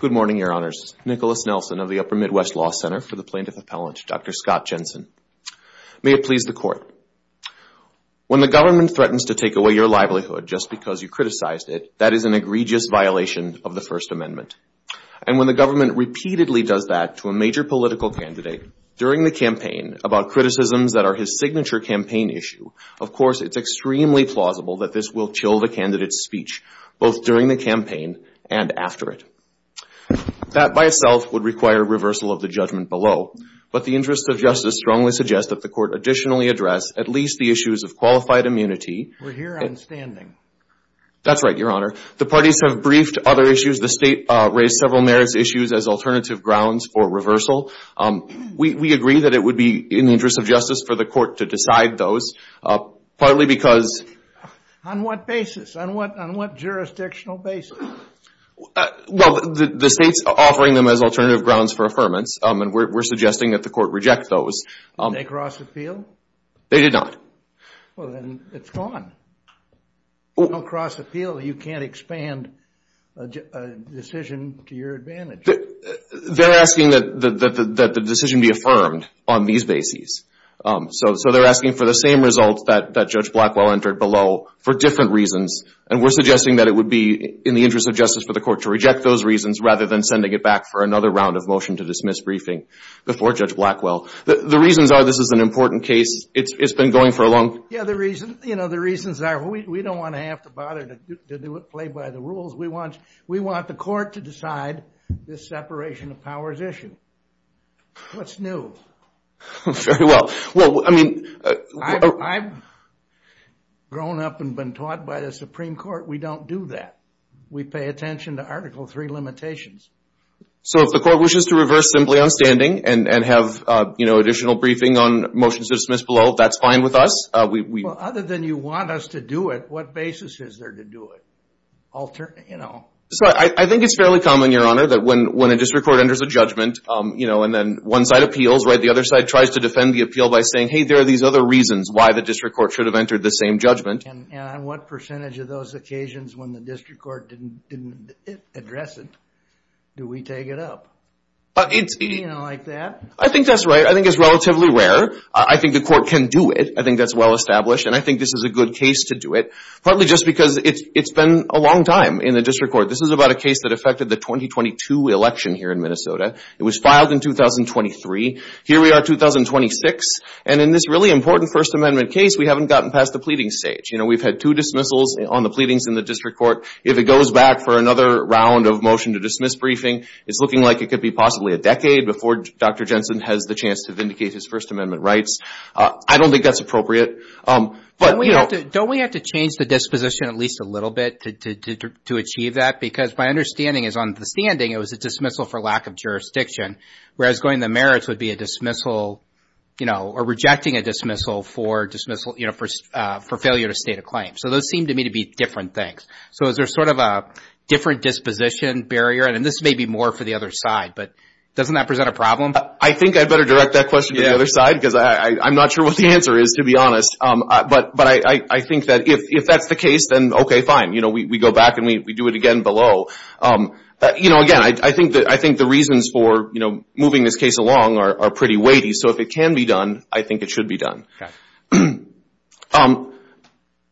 Good morning, Your Honors. Nicholas Nelson of the Upper Midwest Law Center for the Plaintiff Appellant, Dr. Scott Jensen. May it please the Court. When the government threatens to take away your livelihood just because you criticized it, that is an egregious violation of the First Amendment. And when the government repeatedly does that to a major political candidate during the campaign about criticisms that are his signature campaign issue, of course, it's extremely plausible that this will chill the candidate's speech, both during the campaign and after it. That by itself would require reversal of the judgment below. But the interest of justice strongly suggests that the Court additionally address at least the issues of qualified immunity. We're here on standing. That's right, Your Honor. The parties have briefed other issues. The State raised several merits issues as alternative grounds for reversal. We agree that it would be in the interest of justice for the Court to decide those, partly because... On what basis? On what jurisdictional basis? Well, the State's offering them as alternative grounds for affirmance, and we're suggesting that the Court reject those. Did they cross appeal? They did not. Well, then it's gone. You don't cross appeal. You can't expand a decision to your advantage. They're asking that the decision be affirmed on these bases. So they're asking for the same results that Judge Blackwell entered below for different reasons, and we're suggesting that it would be in the interest of justice for the Court to reject those reasons rather than sending it back for another round of motion to dismiss briefing before Judge Blackwell. The reasons are this is an important case. It's been going for a long... Yeah, the reasons are we don't want to have to bother to play by the rules. We want the Court to decide this separation of powers issue. What's new? Very well. Well, I mean... I've grown up and been taught by the Supreme Court we don't do that. We pay attention to Article III limitations. So if the Court wishes to reverse simply on standing and have additional briefing on motions to dismiss below, that's fine with us? Well, other than you want us to do it, what basis is there to do it? Alternate... I think it's fairly common, Your Honor, that when a district court enters a judgment and then one side appeals, right, the other side tries to defend the appeal by saying, hey, there are these other reasons why the district court should have entered the same judgment. And on what percentage of those occasions when the district court didn't address it do we take it up? You know, like that? I think that's right. I think it's relatively rare. I think the Court can do it. I think that's well established, and I think this is a good case to do it. Partly just because it's been a long time in the district court. This is about a case that affected the 2022 election here in Minnesota. It was filed in 2023. Here we are in 2026, and in this really important First Amendment case, we haven't gotten past the pleading stage. You know, we've had two dismissals on the pleadings in the district court. If it goes back for another round of motion to dismiss briefing, it's looking like it could be possibly a decade before Dr. Jensen has the chance to vindicate his First Amendment rights. I don't think that's appropriate. But, you know... Don't we have to change the disposition at least a little bit to achieve that? Because my understanding is on the standing it was a dismissal for lack of jurisdiction, whereas going to merits would be a dismissal, you know, or rejecting a dismissal for failure to state a claim. So those seem to me to be different things. So is there sort of a different disposition barrier? And this may be more for the other side, but doesn't that present a problem? I think I better direct that question to the other side because I'm not sure what the answer is to be honest. But I think that if that's the case, then okay, fine. You know, we go back and we do it again below. You know, again, I think the reasons for, you know, moving this case along are pretty weighty. So if it can be done, I think it should be done.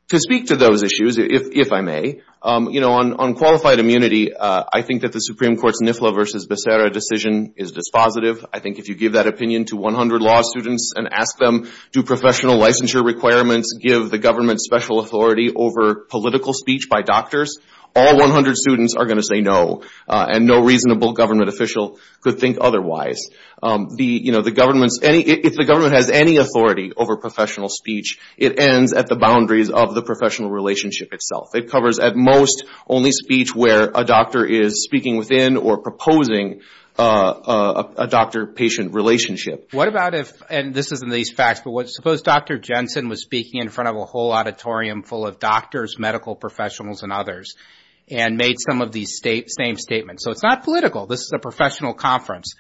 To speak to those issues, if I may, you know, on qualified immunity, I think that the Supreme Court's NIFLA v. Becerra decision is dispositive. I think if you give that opinion to 100 law students and ask them, do professional licensure requirements give the government special authority over political speech by doctors, all 100 students are going to say no, and no reasonable government official could think otherwise. You know, if the government has any authority over professional speech, it ends at the boundaries of the professional relationship itself. It covers at most only speech where a doctor is speaking within or proposing a doctor-patient relationship. What about if, and this is in these facts, but what, suppose Dr. Jensen was speaking in front of a whole auditorium full of doctors, medical professionals, and others, and made some of these same statements. So it's not political. This is a professional conference.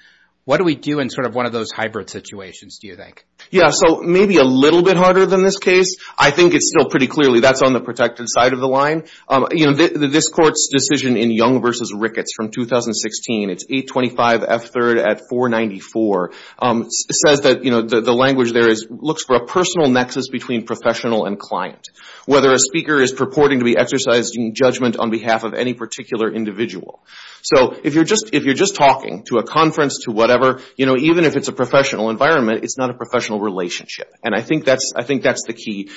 What do we do in sort of one of those hybrid situations, do you think? Yeah, so maybe a little bit harder than this case. I think it's still pretty clearly that's on the protected side of the line. You know, this court's decision in Young v. Ricketts from 2016, it's 825 F. 3rd at 494, says that the language there is, looks for a personal nexus between professional and client. Whether a speaker is purporting to be exercised in judgment on behalf of any particular individual. So if you're just talking to a conference, to whatever, you know, even if it's a professional environment, it's not a professional relationship. And I think that's the key.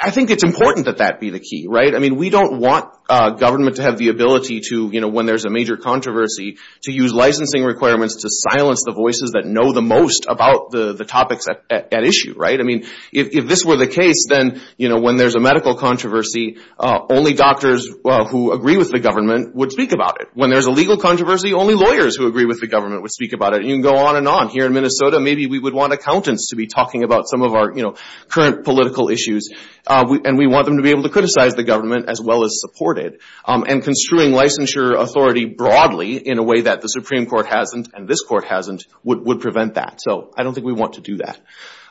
I think it's important that that be the key, right? I mean, we don't want government to have the ability to, you know, when there's a major controversy, to use licensing requirements to silence the voices that know the most about the topics at issue, right? I mean, if this were the case, then, you know, when there's a medical controversy, only doctors who agree with the government would speak about it. When there's a legal controversy, only lawyers who agree with the government would speak about it. And you can go on and on. Here in Minnesota, maybe we would want accountants to be talking about some of our, you know, current political issues. And we want them to be able to criticize the government as well as support it. And construing licensure authority broadly in a way that the Supreme Court hasn't, and this Court hasn't, would prevent that. So I don't think we want to do that.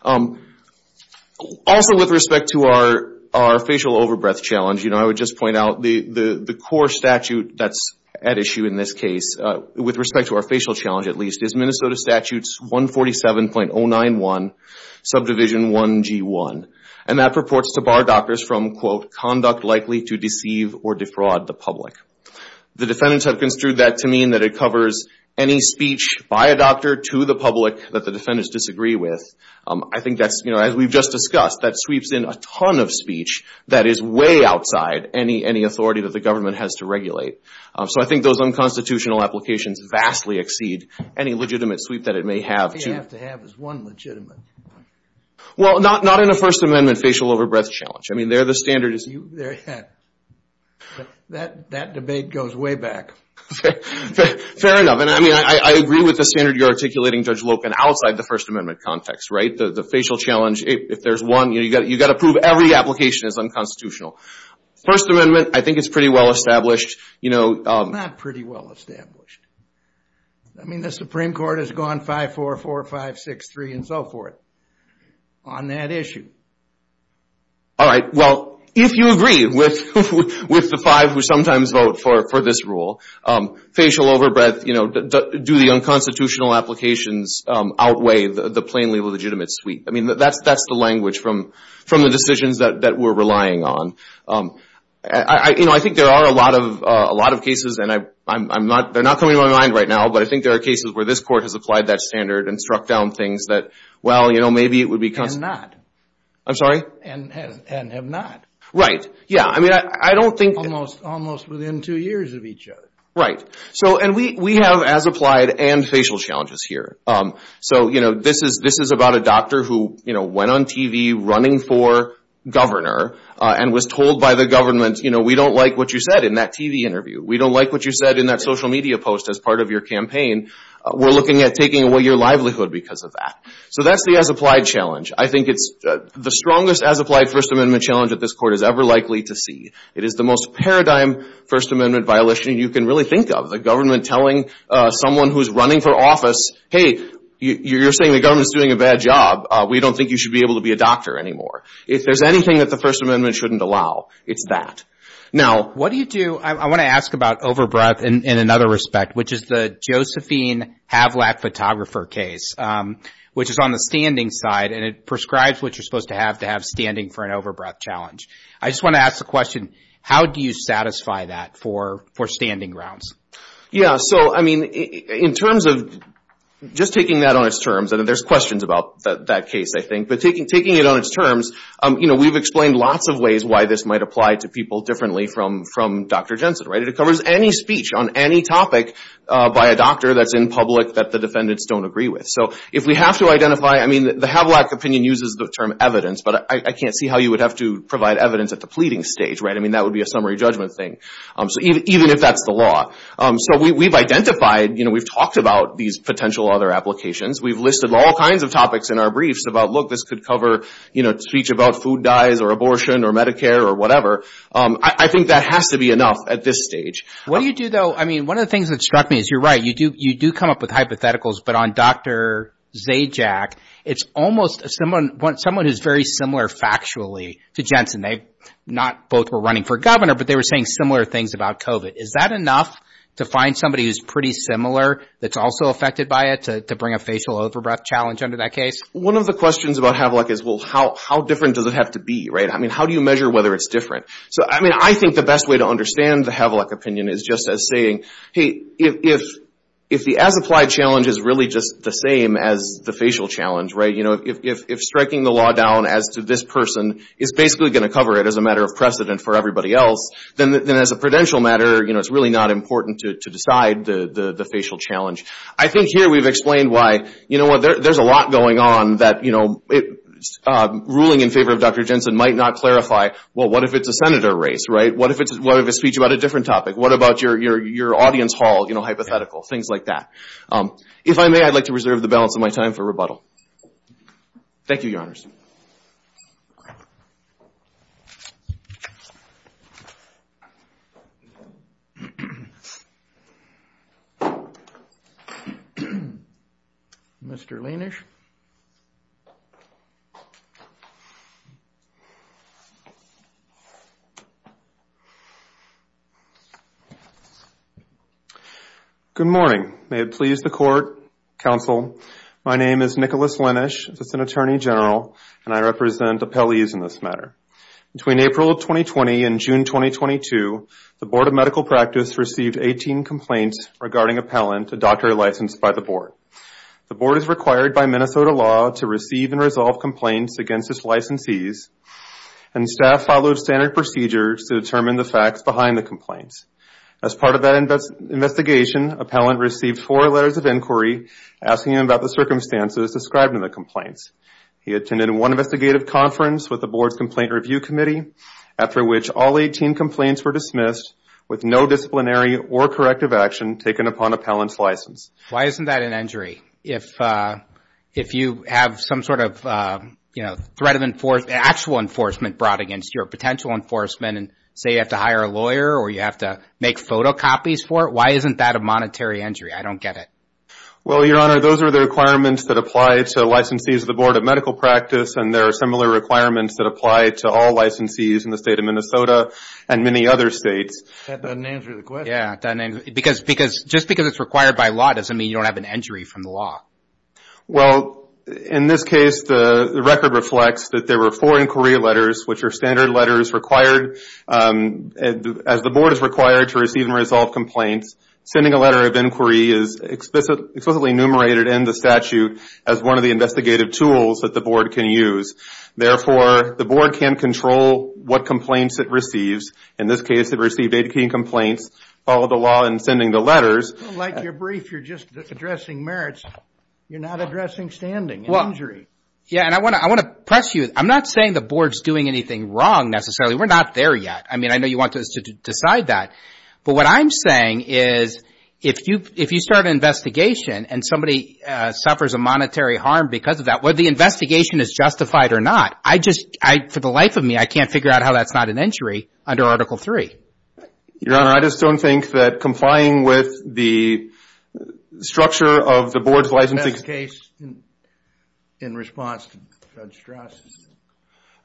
Also with respect to our facial overbreath challenge, you know, I would just point out the core statute that's at issue in this case, with respect to our facial challenge at least, is Minnesota Statutes 147.091, Subdivision 1G1. And that purports to bar doctors from, quote, conduct likely to deceive or defraud the public. The defendants have construed that to mean that it covers any speech by a doctor to the public that the defendants disagree with. I think that's, you know, as we've just discussed, that sweeps in a ton of speech that is way outside any authority that the government has to regulate. So I think those unconstitutional applications vastly exceed any legitimate sweep that it may have to... The only thing it has to have is one legitimate. Well, not in a First Amendment facial overbreath challenge. I mean, there the standard is... That debate goes way back. Fair enough. And I mean, I agree with the standard you're articulating, Judge Lopen, outside the First Amendment context, right? The facial challenge, if there's one, you got to prove every application is unconstitutional. First Amendment, I think it's pretty well established, you know... It's not pretty well established. I mean, the Supreme Court has gone 5-4, 4-5, 6-3 and so forth on that issue. All right. Well, if you agree with the five who sometimes vote for this rule, facial overbreath, you know, do the unconstitutional applications outweigh the plainly legitimate sweep? I mean, that's the language from the decisions that we're relying on. You know, I think there are a lot of cases, and they're not coming to my mind right now, but I think there are cases where this Court has applied that standard and struck down things that, well, you know, maybe it would be... And not. I'm sorry? And have not. Right. Yeah. I mean, I don't think... Almost within two years of each other. Right. So, and we have, as applied, and facial challenges here. So, you know, this is about a doctor who, you know, went on TV running for governor and was told by the government, you know, we don't like what you said in that TV interview. We don't like what you said in that social media post as part of your campaign. We're looking at taking away your livelihood because of that. So that's the as applied challenge. I think it's the strongest as applied First Amendment challenge that this Court is ever likely to see. It is the most paradigm First Amendment violation you can really think of. The government telling someone who's running for office, hey, you're saying the government's doing a bad job. We don't think you should be able to be a doctor anymore. If there's anything that the First Amendment... Now, what do you do... I want to ask about over-breath in another respect, which is the Josephine Havlak photographer case, which is on the standing side. And it prescribes what you're supposed to have to have standing for an over-breath challenge. I just want to ask the question, how do you satisfy that for standing grounds? Yeah. So, I mean, in terms of just taking that on its terms, and there's questions about that case, I think. But taking it on its terms, we've explained lots of ways why this might apply to people differently from Dr. Jensen. It covers any speech on any topic by a doctor that's in public that the defendants don't agree with. So if we have to identify... I mean, the Havlak opinion uses the term evidence, but I can't see how you would have to provide evidence at the pleading stage. I mean, that would be a summary judgment thing, even if that's the law. So we've identified, we've talked about these potential other applications. We've listed all kinds of topics in our briefs about, look, this could cover speech about food dyes or abortion or Medicare or whatever. I think that has to be enough at this stage. What do you do, though? I mean, one of the things that struck me is you're right, you do come up with hypotheticals. But on Dr. Zajac, it's almost someone who's very similar factually to Jensen. They not both were running for governor, but they were saying similar things about COVID. Is that enough to find somebody who's pretty similar that's also affected by it, to bring a facial overbreath challenge under that case? One of the questions about Havlak is, well, how different does it have to be, right? I mean, how do you measure whether it's different? So, I mean, I think the best way to understand the Havlak opinion is just as saying, hey, if the as-applied challenge is really just the same as the facial challenge, right? If striking the law down as to this person is basically going to cover it as a matter of precedent for everybody else, then as a prudential matter, it's really not important to decide the facial challenge. I think here we've explained why, you know what, there's a lot going on that ruling in favor of Dr. Jensen might not clarify, well, what if it's a senator race, right? What if it's a speech about a different topic? What about your audience hall hypothetical? Things like that. If I may, I'd like to reserve the balance of my time for rebuttal. Thank you, Your Honors. Mr. Lienish. Good morning. May it please the Court, Counsel, my name is Nicholas Lienish. As an Attorney General, and I represent appellees in this matter. Between April of 2020 and June 2022, the Board of Medical Practice received 18 complaints regarding appellant, a doctor licensed by the Board. The Board is required by Minnesota law to receive and resolve complaints against its licensees, and staff follow standard procedures to determine the facts behind the complaints. As part of that investigation, appellant received four letters of inquiry asking about the circumstances described in the complaints. He attended one investigative conference with the Board's Complaint Review Committee, after which all 18 complaints were dismissed with no disciplinary or corrective action taken upon appellant's license. Why isn't that an injury? If you have some sort of, you know, threat of enforce, actual enforcement brought against you, or potential enforcement, and say you have to hire a lawyer or you have to make photocopies for it, why isn't that a monetary injury? I don't get it. Well, Your Honor, those are the requirements that apply to licensees of the Board of Medical Practice, and there are similar requirements that apply to all licensees in the State of Minnesota and many other states. That doesn't answer the question. Because, just because it's required by law doesn't mean you don't have an injury from the law. Well, in this case, the record reflects that there were four inquiry letters, which are standard letters required. As the Board is required to receive and resolve complaints, sending a letter of inquiry is explicitly enumerated in the statute as one of the investigative tools that the Board can use. Therefore, the Board can't control what complaints it receives. In this case, it received 18 complaints, followed the law in sending the letters. Like your brief, you're just addressing merits. You're not addressing standing and injury. Yeah, and I want to press you. I'm not saying the Board's doing anything wrong, necessarily. We're not there yet. I mean, I know you want us to decide that. But what I'm saying is, if you start an investigation and somebody suffers a monetary harm because of that, whether the investigation is justified or not, I just, for the life of me, I can't figure out how that's not an injury under Article III. Your Honor, I just don't think that complying with the structure of the Board's licensing The best case in response to Judge Strauss?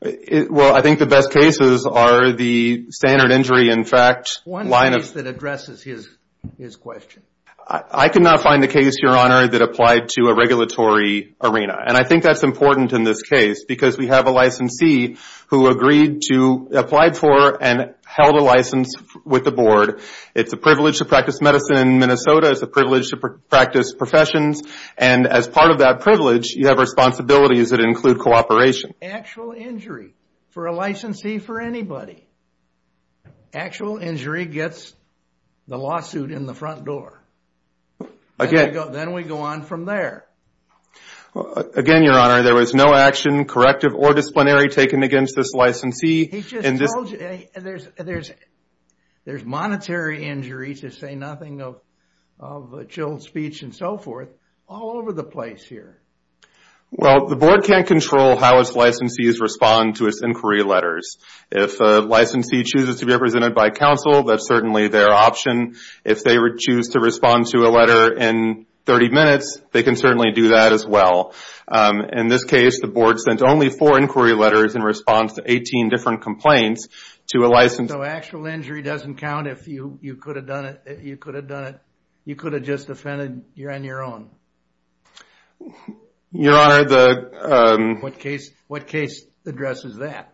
Well, I think the best cases are the standard injury, in fact, line of... One case that addresses his question. I could not find a case, Your Honor, that applied to a regulatory arena. And I think that's important in this case because we have a licensee who agreed to, applied for, and held a license with the Board. It's a privilege to practice medicine in Minnesota. It's a And as part of that privilege, you have responsibilities that include cooperation. Actual injury for a licensee, for anybody. Actual injury gets the lawsuit in the front door. Again... Then we go on from there. Again, Your Honor, there was no action, corrective or disciplinary, taken against this licensee. He just told you. There's monetary injury, to say nothing of chilled speech and so forth, all over the place here. Well, the Board can't control how its licensees respond to its inquiry letters. If a licensee chooses to be represented by counsel, that's certainly their option. If they choose to respond to a letter in 30 minutes, they can certainly do that as well. In this case, the Board sent only four inquiry letters in response to 18 different complaints to a licensee. Actual injury doesn't count if you could have done it... You could have just defended your own. Your Honor, the... What case addresses that?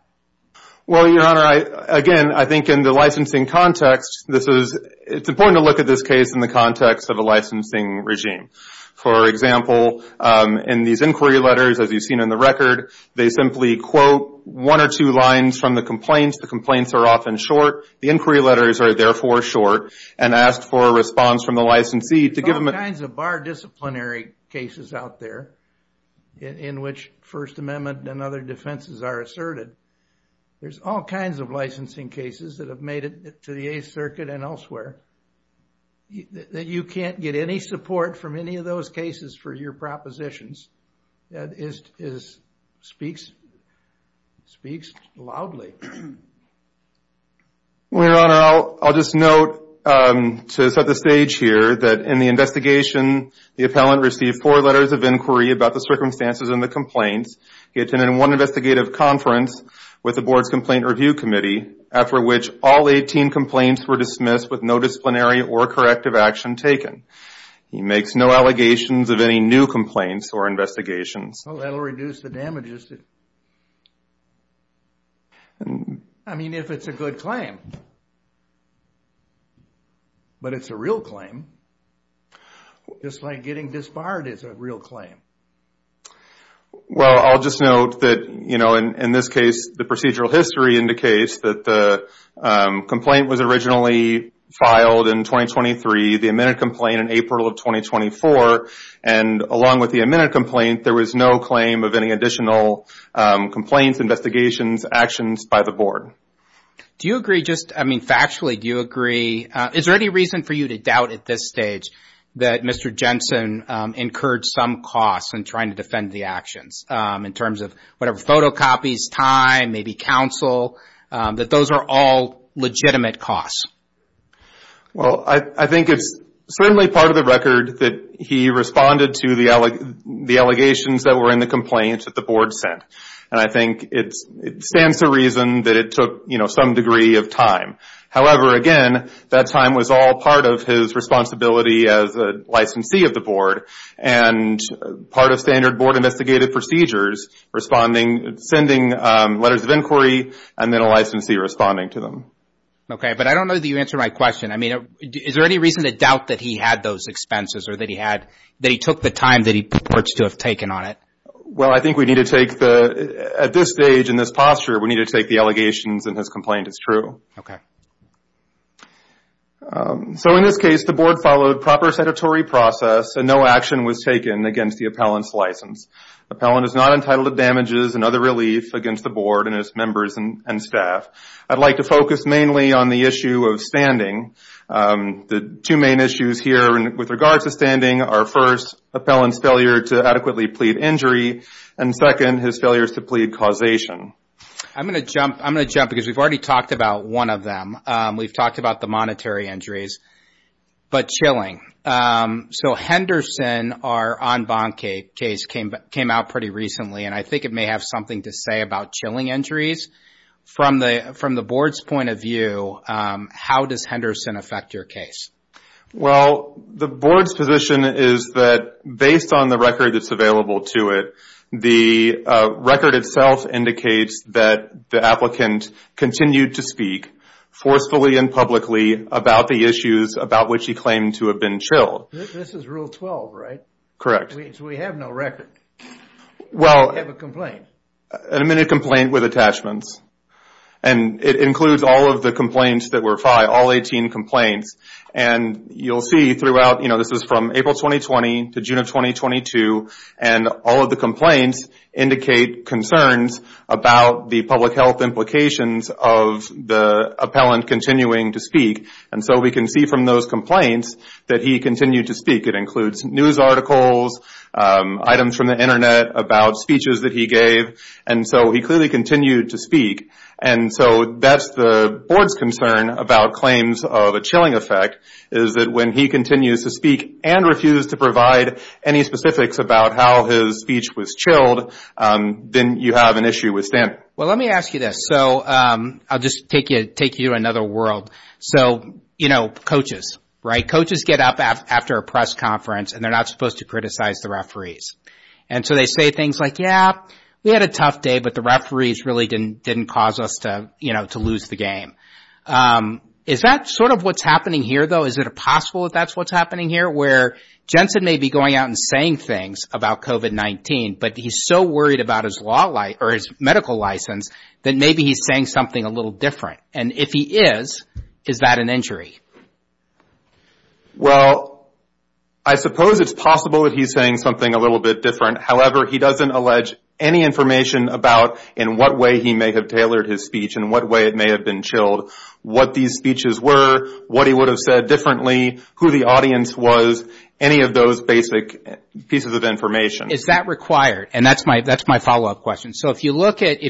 Well, Your Honor, again, I think in the licensing context, it's important to look at this case in the context of a licensing regime. For example, in these inquiry letters, as you've seen in the record, they simply quote one or two lines from the complaints. The complaints are often short. The inquiry letters are therefore short, and asked for a response from the licensee to give them... There are all kinds of bar disciplinary cases out there in which First Amendment and other defenses are asserted. There's all kinds of licensing cases that have made it to the Eighth Circuit and elsewhere. You can't get any support from any of those cases for your propositions. That speaks loudly. Your Honor, I'll just note to set the stage here that in the investigation, the appellant received four letters of inquiry about the circumstances and the complaints. He attended one investigative conference with the Board's Complaint Review Committee, after which all 18 complaints were dismissed with no disciplinary or corrective action taken. He makes no allegations of any new complaints or investigations. That'll reduce the damages. I mean, if it's a good claim. But it's a real claim. Just like getting disbarred is a real claim. Well, I'll just note that in this case, the procedural history indicates that the complaint was originally filed in 2023, the amended complaint in April of 2024. Along with the amended complaint, there was no claim of any additional complaints, investigations, actions by the Board. Do you agree just, I mean, factually, do you agree? Is there any reason for you to doubt at this stage that Mr. Jensen incurred some costs in trying to defend the actions in terms of whatever, photocopies, time, maybe counsel, that those are all legitimate costs? Well, I think it's certainly part of the record that he responded to the allegations that were in the complaint that the Board sent. And I think it stands to reason that it took, you know, some degree of time. However, again, that time was all part of his responsibility as a licensee of the Board and part of standard Board investigative procedures, responding, sending letters of inquiry, and then a licensee responding to them. Okay. But I don't know that you answered my question. I mean, is there any reason to doubt that he had those expenses or that he took the time that he purports to have taken on it? Well, I think we need to take, at this stage, in this posture, we need to take the allegations in his complaint as true. Okay. So, in this case, the Board followed proper sedatory process and no action was taken against the appellant's license. Appellant is not entitled to damages and other relief against the Board and its members and staff. I'd like to focus mainly on the issue of standing. The two main issues here with regards to standing are, first, appellant's failure to adequately plead injury, and second, his failures to plead causation. I'm going to jump because we've already talked about one of them. We've talked about the monetary injuries, but chilling. So, Henderson, our en banc case, came out pretty recently, and I think it may have something to say about chilling injuries. From the Board's point of view, how does Henderson affect your case? Well, the Board's position is that, based on the record that's available to it, the record itself indicates that the applicant continued to speak forcefully and publicly about the issues about which he claimed to have been chilled. This is Rule 12, right? Correct. So, we have no record. Well... You have a complaint. An admitted complaint with attachments. It includes all of the complaints that were filed, all 18 complaints. You'll see throughout, this was from April 2020 to June of 2022, and all of the complaints indicate concerns about the public health implications of the appellant continuing to speak. So, we can see from those complaints that he continued to speak. It includes news articles, items from the internet about speeches that he gave. And so, he clearly continued to speak. And so, that's the Board's concern about claims of a chilling effect, is that when he continues to speak and refuses to provide any specifics about how his speech was chilled, then you have an issue with stamp. Well, let me ask you this. So, I'll just take you to another world. So, you know, coaches, right? Coaches get up after a press conference and they're not supposed to criticize the referees. And so, they say things like, yeah, we had a tough day, but the referees really didn't cause us to, you know, to lose the game. Is that sort of what's happening here, though? Is it possible that that's what's happening here, where Jensen may be going out and saying things about COVID-19, but he's so worried about his medical license that maybe he's saying something a little different. And if he is, is that an injury? Well, I suppose it's possible that he's saying something a little bit different. However, he doesn't allege any information about in what way he may have tailored his speech, in what way it may have been chilled, what these speeches were, what he would have said differently, who the audience was, any of those basic pieces of information. Is that required? And that's my follow-up question. So, if you look at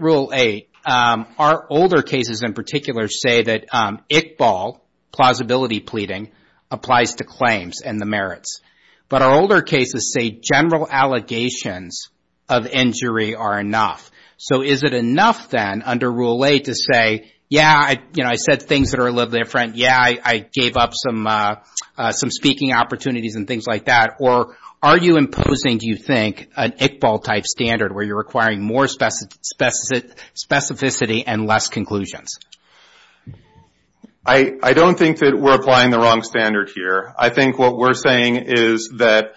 Rule 8, our older cases in particular say that ICBAL, plausibility pleading, applies to claims and the merits. But our older cases say general allegations of injury are enough. So, is it enough then under Rule 8 to say, yeah, you know, I said things that are a little different. Yeah, I gave up some speaking opportunities and things like that. Or are you imposing, do you require more specificity and less conclusions? I don't think that we're applying the wrong standard here. I think what we're saying is that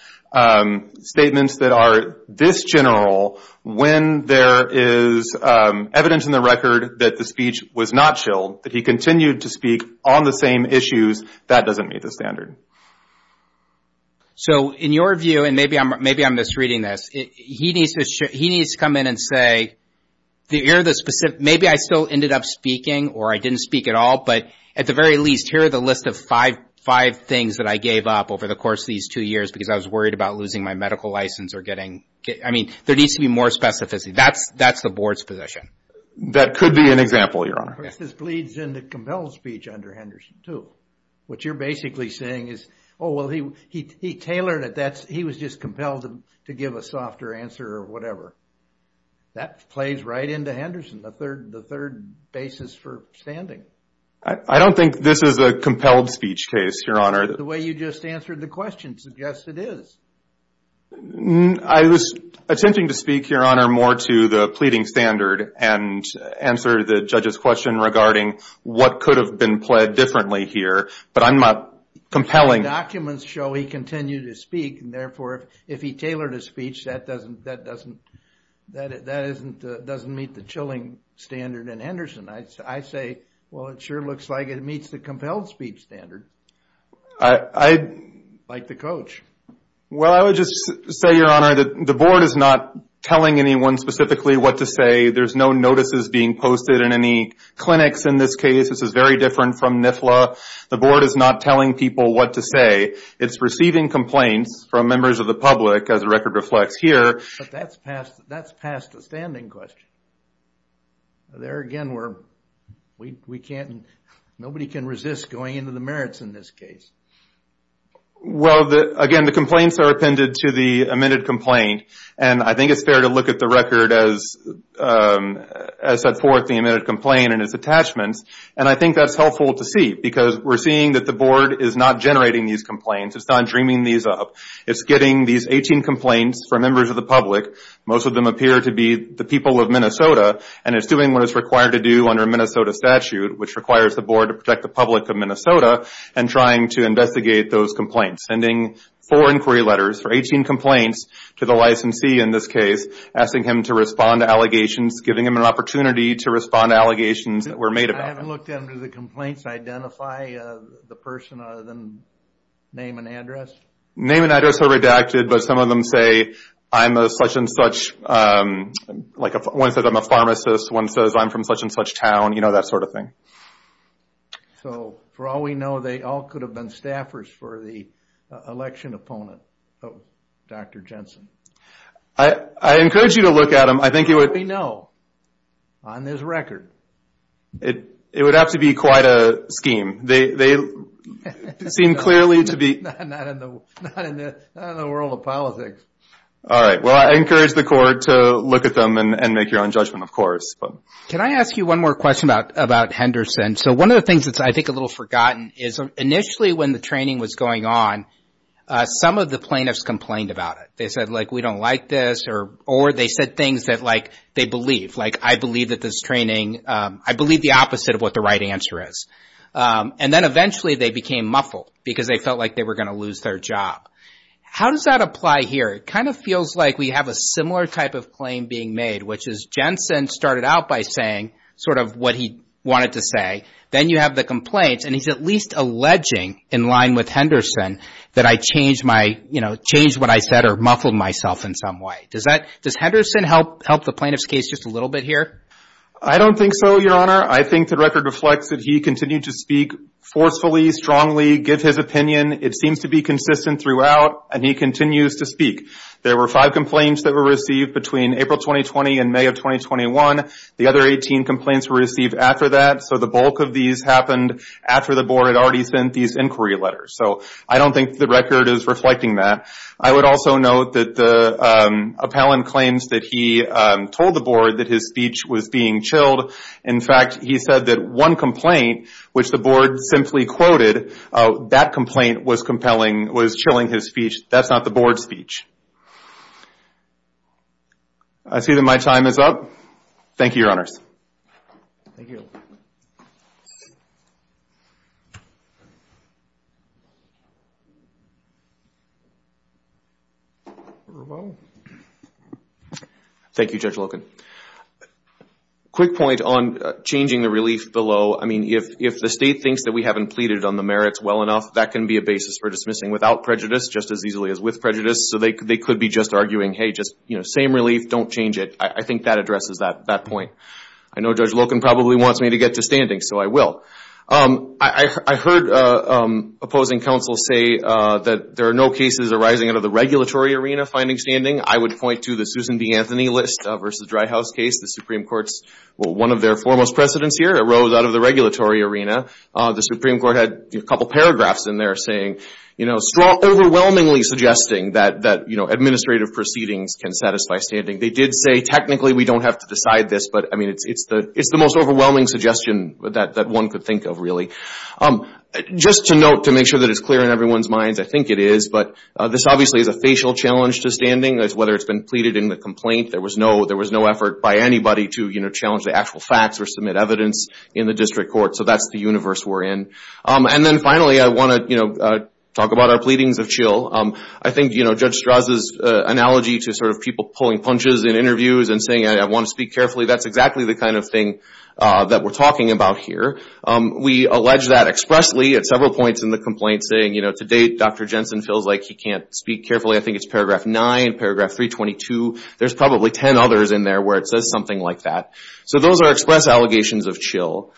statements that are this general, when there is evidence in the record that the speech was not chilled, that he continued to speak on the same issues, that doesn't meet the standard. So, in your view, and maybe I'm misreading this, he needs to come in and say, the specific, maybe I still ended up speaking or I didn't speak at all, but at the very least, here are the list of five things that I gave up over the course of these two years because I was worried about losing my medical license or getting, I mean, there needs to be more specificity. That's the board's position. That could be an example, Your Honor. This bleeds into compelled speech under Henderson too. What you're basically saying is, oh, well, he tailored it. He was just compelled to give a softer answer or whatever. That plays right into Henderson, the third basis for standing. I don't think this is a compelled speech case, Your Honor. The way you just answered the question suggests it is. I was attempting to speak, Your Honor, more to the pleading standard and answer the judge's regarding what could have been pled differently here. But I'm not compelling... Documents show he continued to speak. And therefore, if he tailored his speech, that doesn't meet the chilling standard in Henderson. I say, well, it sure looks like it meets the compelled speech standard, like the coach. Well, I would just say, Your Honor, that the board is not telling anyone specifically what to say. There's no notices being posted in any clinics in this case. This is very different from NIFLA. The board is not telling people what to say. It's receiving complaints from members of the public, as the record reflects here. But that's past the standing question. There again, nobody can resist going into the merits in this case. Well, again, the complaints are appended to the amended complaint. And I think it's fair to look at the record as set forth the amended complaint and its attachments. And I think that's helpful to see. Because we're seeing that the board is not generating these complaints. It's not dreaming these up. It's getting these 18 complaints from members of the public. Most of them appear to be the people of Minnesota. And it's doing what it's required to do under Minnesota statute, which requires the board to protect the public of Minnesota and trying to investigate those complaints. Sending four inquiry letters for 18 complaints to the licensee in this case. Asking him to respond to allegations. Giving him an opportunity to respond to allegations that were made about him. I haven't looked into the complaints. Identify the person other than name and address. Name and address are redacted. But some of them say, I'm a such and such. Like one says, I'm a pharmacist. One says, I'm from such and such town. You know, that sort of thing. So, for all we know, they all could have been staffers for the election opponent of Dr. Jensen. I encourage you to look at them. I think it would... We know. On this record. It would have to be quite a scheme. They seem clearly to be... Not in the world of politics. All right. Well, I encourage the court to look at them and make your own judgment, of course. Can I ask you one more question about Henderson? So, one of the things that's, I think, a little forgotten, is initially when the training was going on, some of the plaintiffs complained about it. They said, like, we don't like this. Or they said things that, like, they believe. Like, I believe that this training... I believe the opposite of what the right answer is. And then eventually they became muffled. Because they felt like they were going to lose their job. How does that apply here? It kind of feels like we have a similar type of claim being made. Jensen started out by saying sort of what he wanted to say. Then you have the complaints. And he's at least alleging, in line with Henderson, that I changed what I said or muffled myself in some way. Does Henderson help the plaintiff's case just a little bit here? I don't think so, Your Honor. I think the record reflects that he continued to speak forcefully, strongly, give his opinion. It seems to be consistent throughout. And he continues to speak. There were five complaints that were received between April 2020 and May of 2021. The other 18 complaints were received after that. So the bulk of these happened after the board had already sent these inquiry letters. So I don't think the record is reflecting that. I would also note that the appellant claims that he told the board that his speech was being chilled. In fact, he said that one complaint, which the board simply quoted, that complaint was compelling, was chilling his speech. That's not the board's speech. I see that my time is up. Thank you, Your Honors. Thank you, Your Honor. Thank you, Judge Loken. Quick point on changing the relief below. I mean, if the state thinks that we haven't pleaded on the merits well enough, that can be a basis for dismissing without prejudice, just as easily as with prejudice. So they could be just arguing, hey, just, you know, same relief. Don't change it. I think that addresses that point. I know Judge Loken probably wants me to get to standing, so I will. I heard opposing counsel say that there are no cases arising out of the regulatory arena finding standing. I would point to the Susan B. Anthony list versus Dry House case. The Supreme Court's one of their foremost precedents here arose out of the regulatory arena. The Supreme Court had a couple paragraphs in there saying, overwhelmingly suggesting that administrative proceedings can satisfy standing. They did say, technically, we don't have to decide this, but I mean, it's the most overwhelming suggestion that one could think of, really. Just to note, to make sure that it's clear in everyone's minds, I think it is, but this obviously is a facial challenge to standing, whether it's been pleaded in the complaint. There was no effort by anybody to challenge the actual facts or submit evidence in the district court. So that's the universe we're in. And then finally, I want to talk about our pleadings of chill. I think Judge Strauss' analogy to people pulling punches in interviews and saying, I want to speak carefully, that's exactly the kind of thing that we're talking about here. We allege that expressly at several points in the complaint, saying, to date, Dr. Jensen feels like he can't speak carefully. I think it's paragraph 9, paragraph 322. There's probably 10 others in there where it says something like that. So those are express allegations of chill.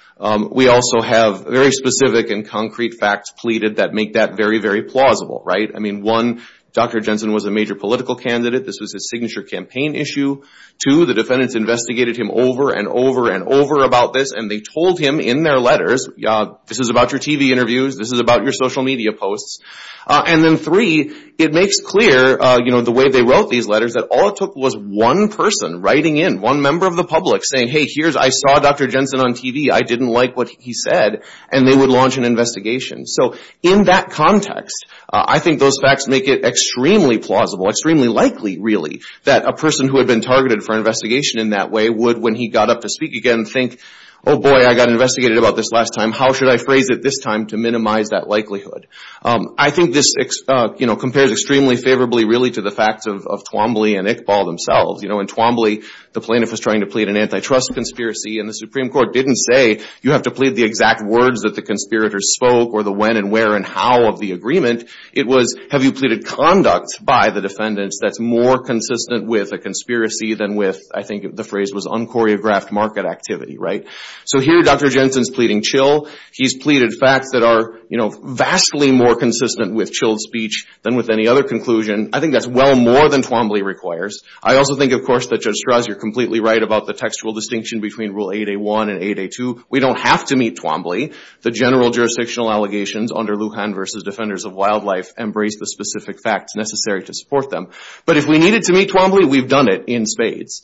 We also have very specific and concrete facts pleaded that make that very, very plausible, right? I mean, one, Dr. Jensen was a major political candidate. This was his signature campaign issue. Two, the defendants investigated him over and over and over about this, and they told him in their letters, this is about your TV interviews. This is about your social media posts. And then three, it makes clear the way they wrote these letters that all it took was one person writing in, one member of the public saying, hey, here's, I saw Dr. Jensen on TV. I didn't like what he said. And they would launch an investigation. So in that context, I think those facts make it extremely plausible, extremely likely, really, that a person who had been targeted for an investigation in that way would, when he got up to speak again, think, oh, boy, I got investigated about this last time. How should I phrase it this time to minimize that likelihood? I think this compares extremely favorably, really, to the facts of Twombly and Iqbal themselves. In Twombly, the plaintiff was trying to plead an antitrust conspiracy, and the Supreme Court didn't say you have to plead the exact words that the conspirators spoke or the when and where and how of the agreement. It was, have you pleaded conduct by the defendants that's more consistent with a conspiracy than with, I think the phrase was unchoreographed market activity, right? So here, Dr. Jensen's pleading chill. He's pleaded facts that are vastly more consistent with chilled speech than with any other conclusion. I think that's well more than Twombly requires. I also think, of course, that Judge Strauss, you're completely right about the textual distinction between Rule 8A1 and 8A2. We don't have to meet Twombly. The general jurisdictional allegations under Lujan versus Defenders of Wildlife embrace the specific facts necessary to support them. But if we needed to meet Twombly, we've done it in spades.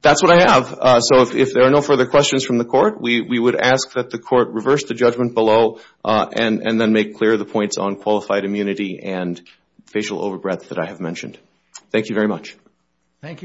That's what I have. So if there are no further questions from the court, we would ask that the court reverse the judgment below and then make clear the points on qualified immunity and facial overbreath that I have mentioned. Thank you very much. Thank you.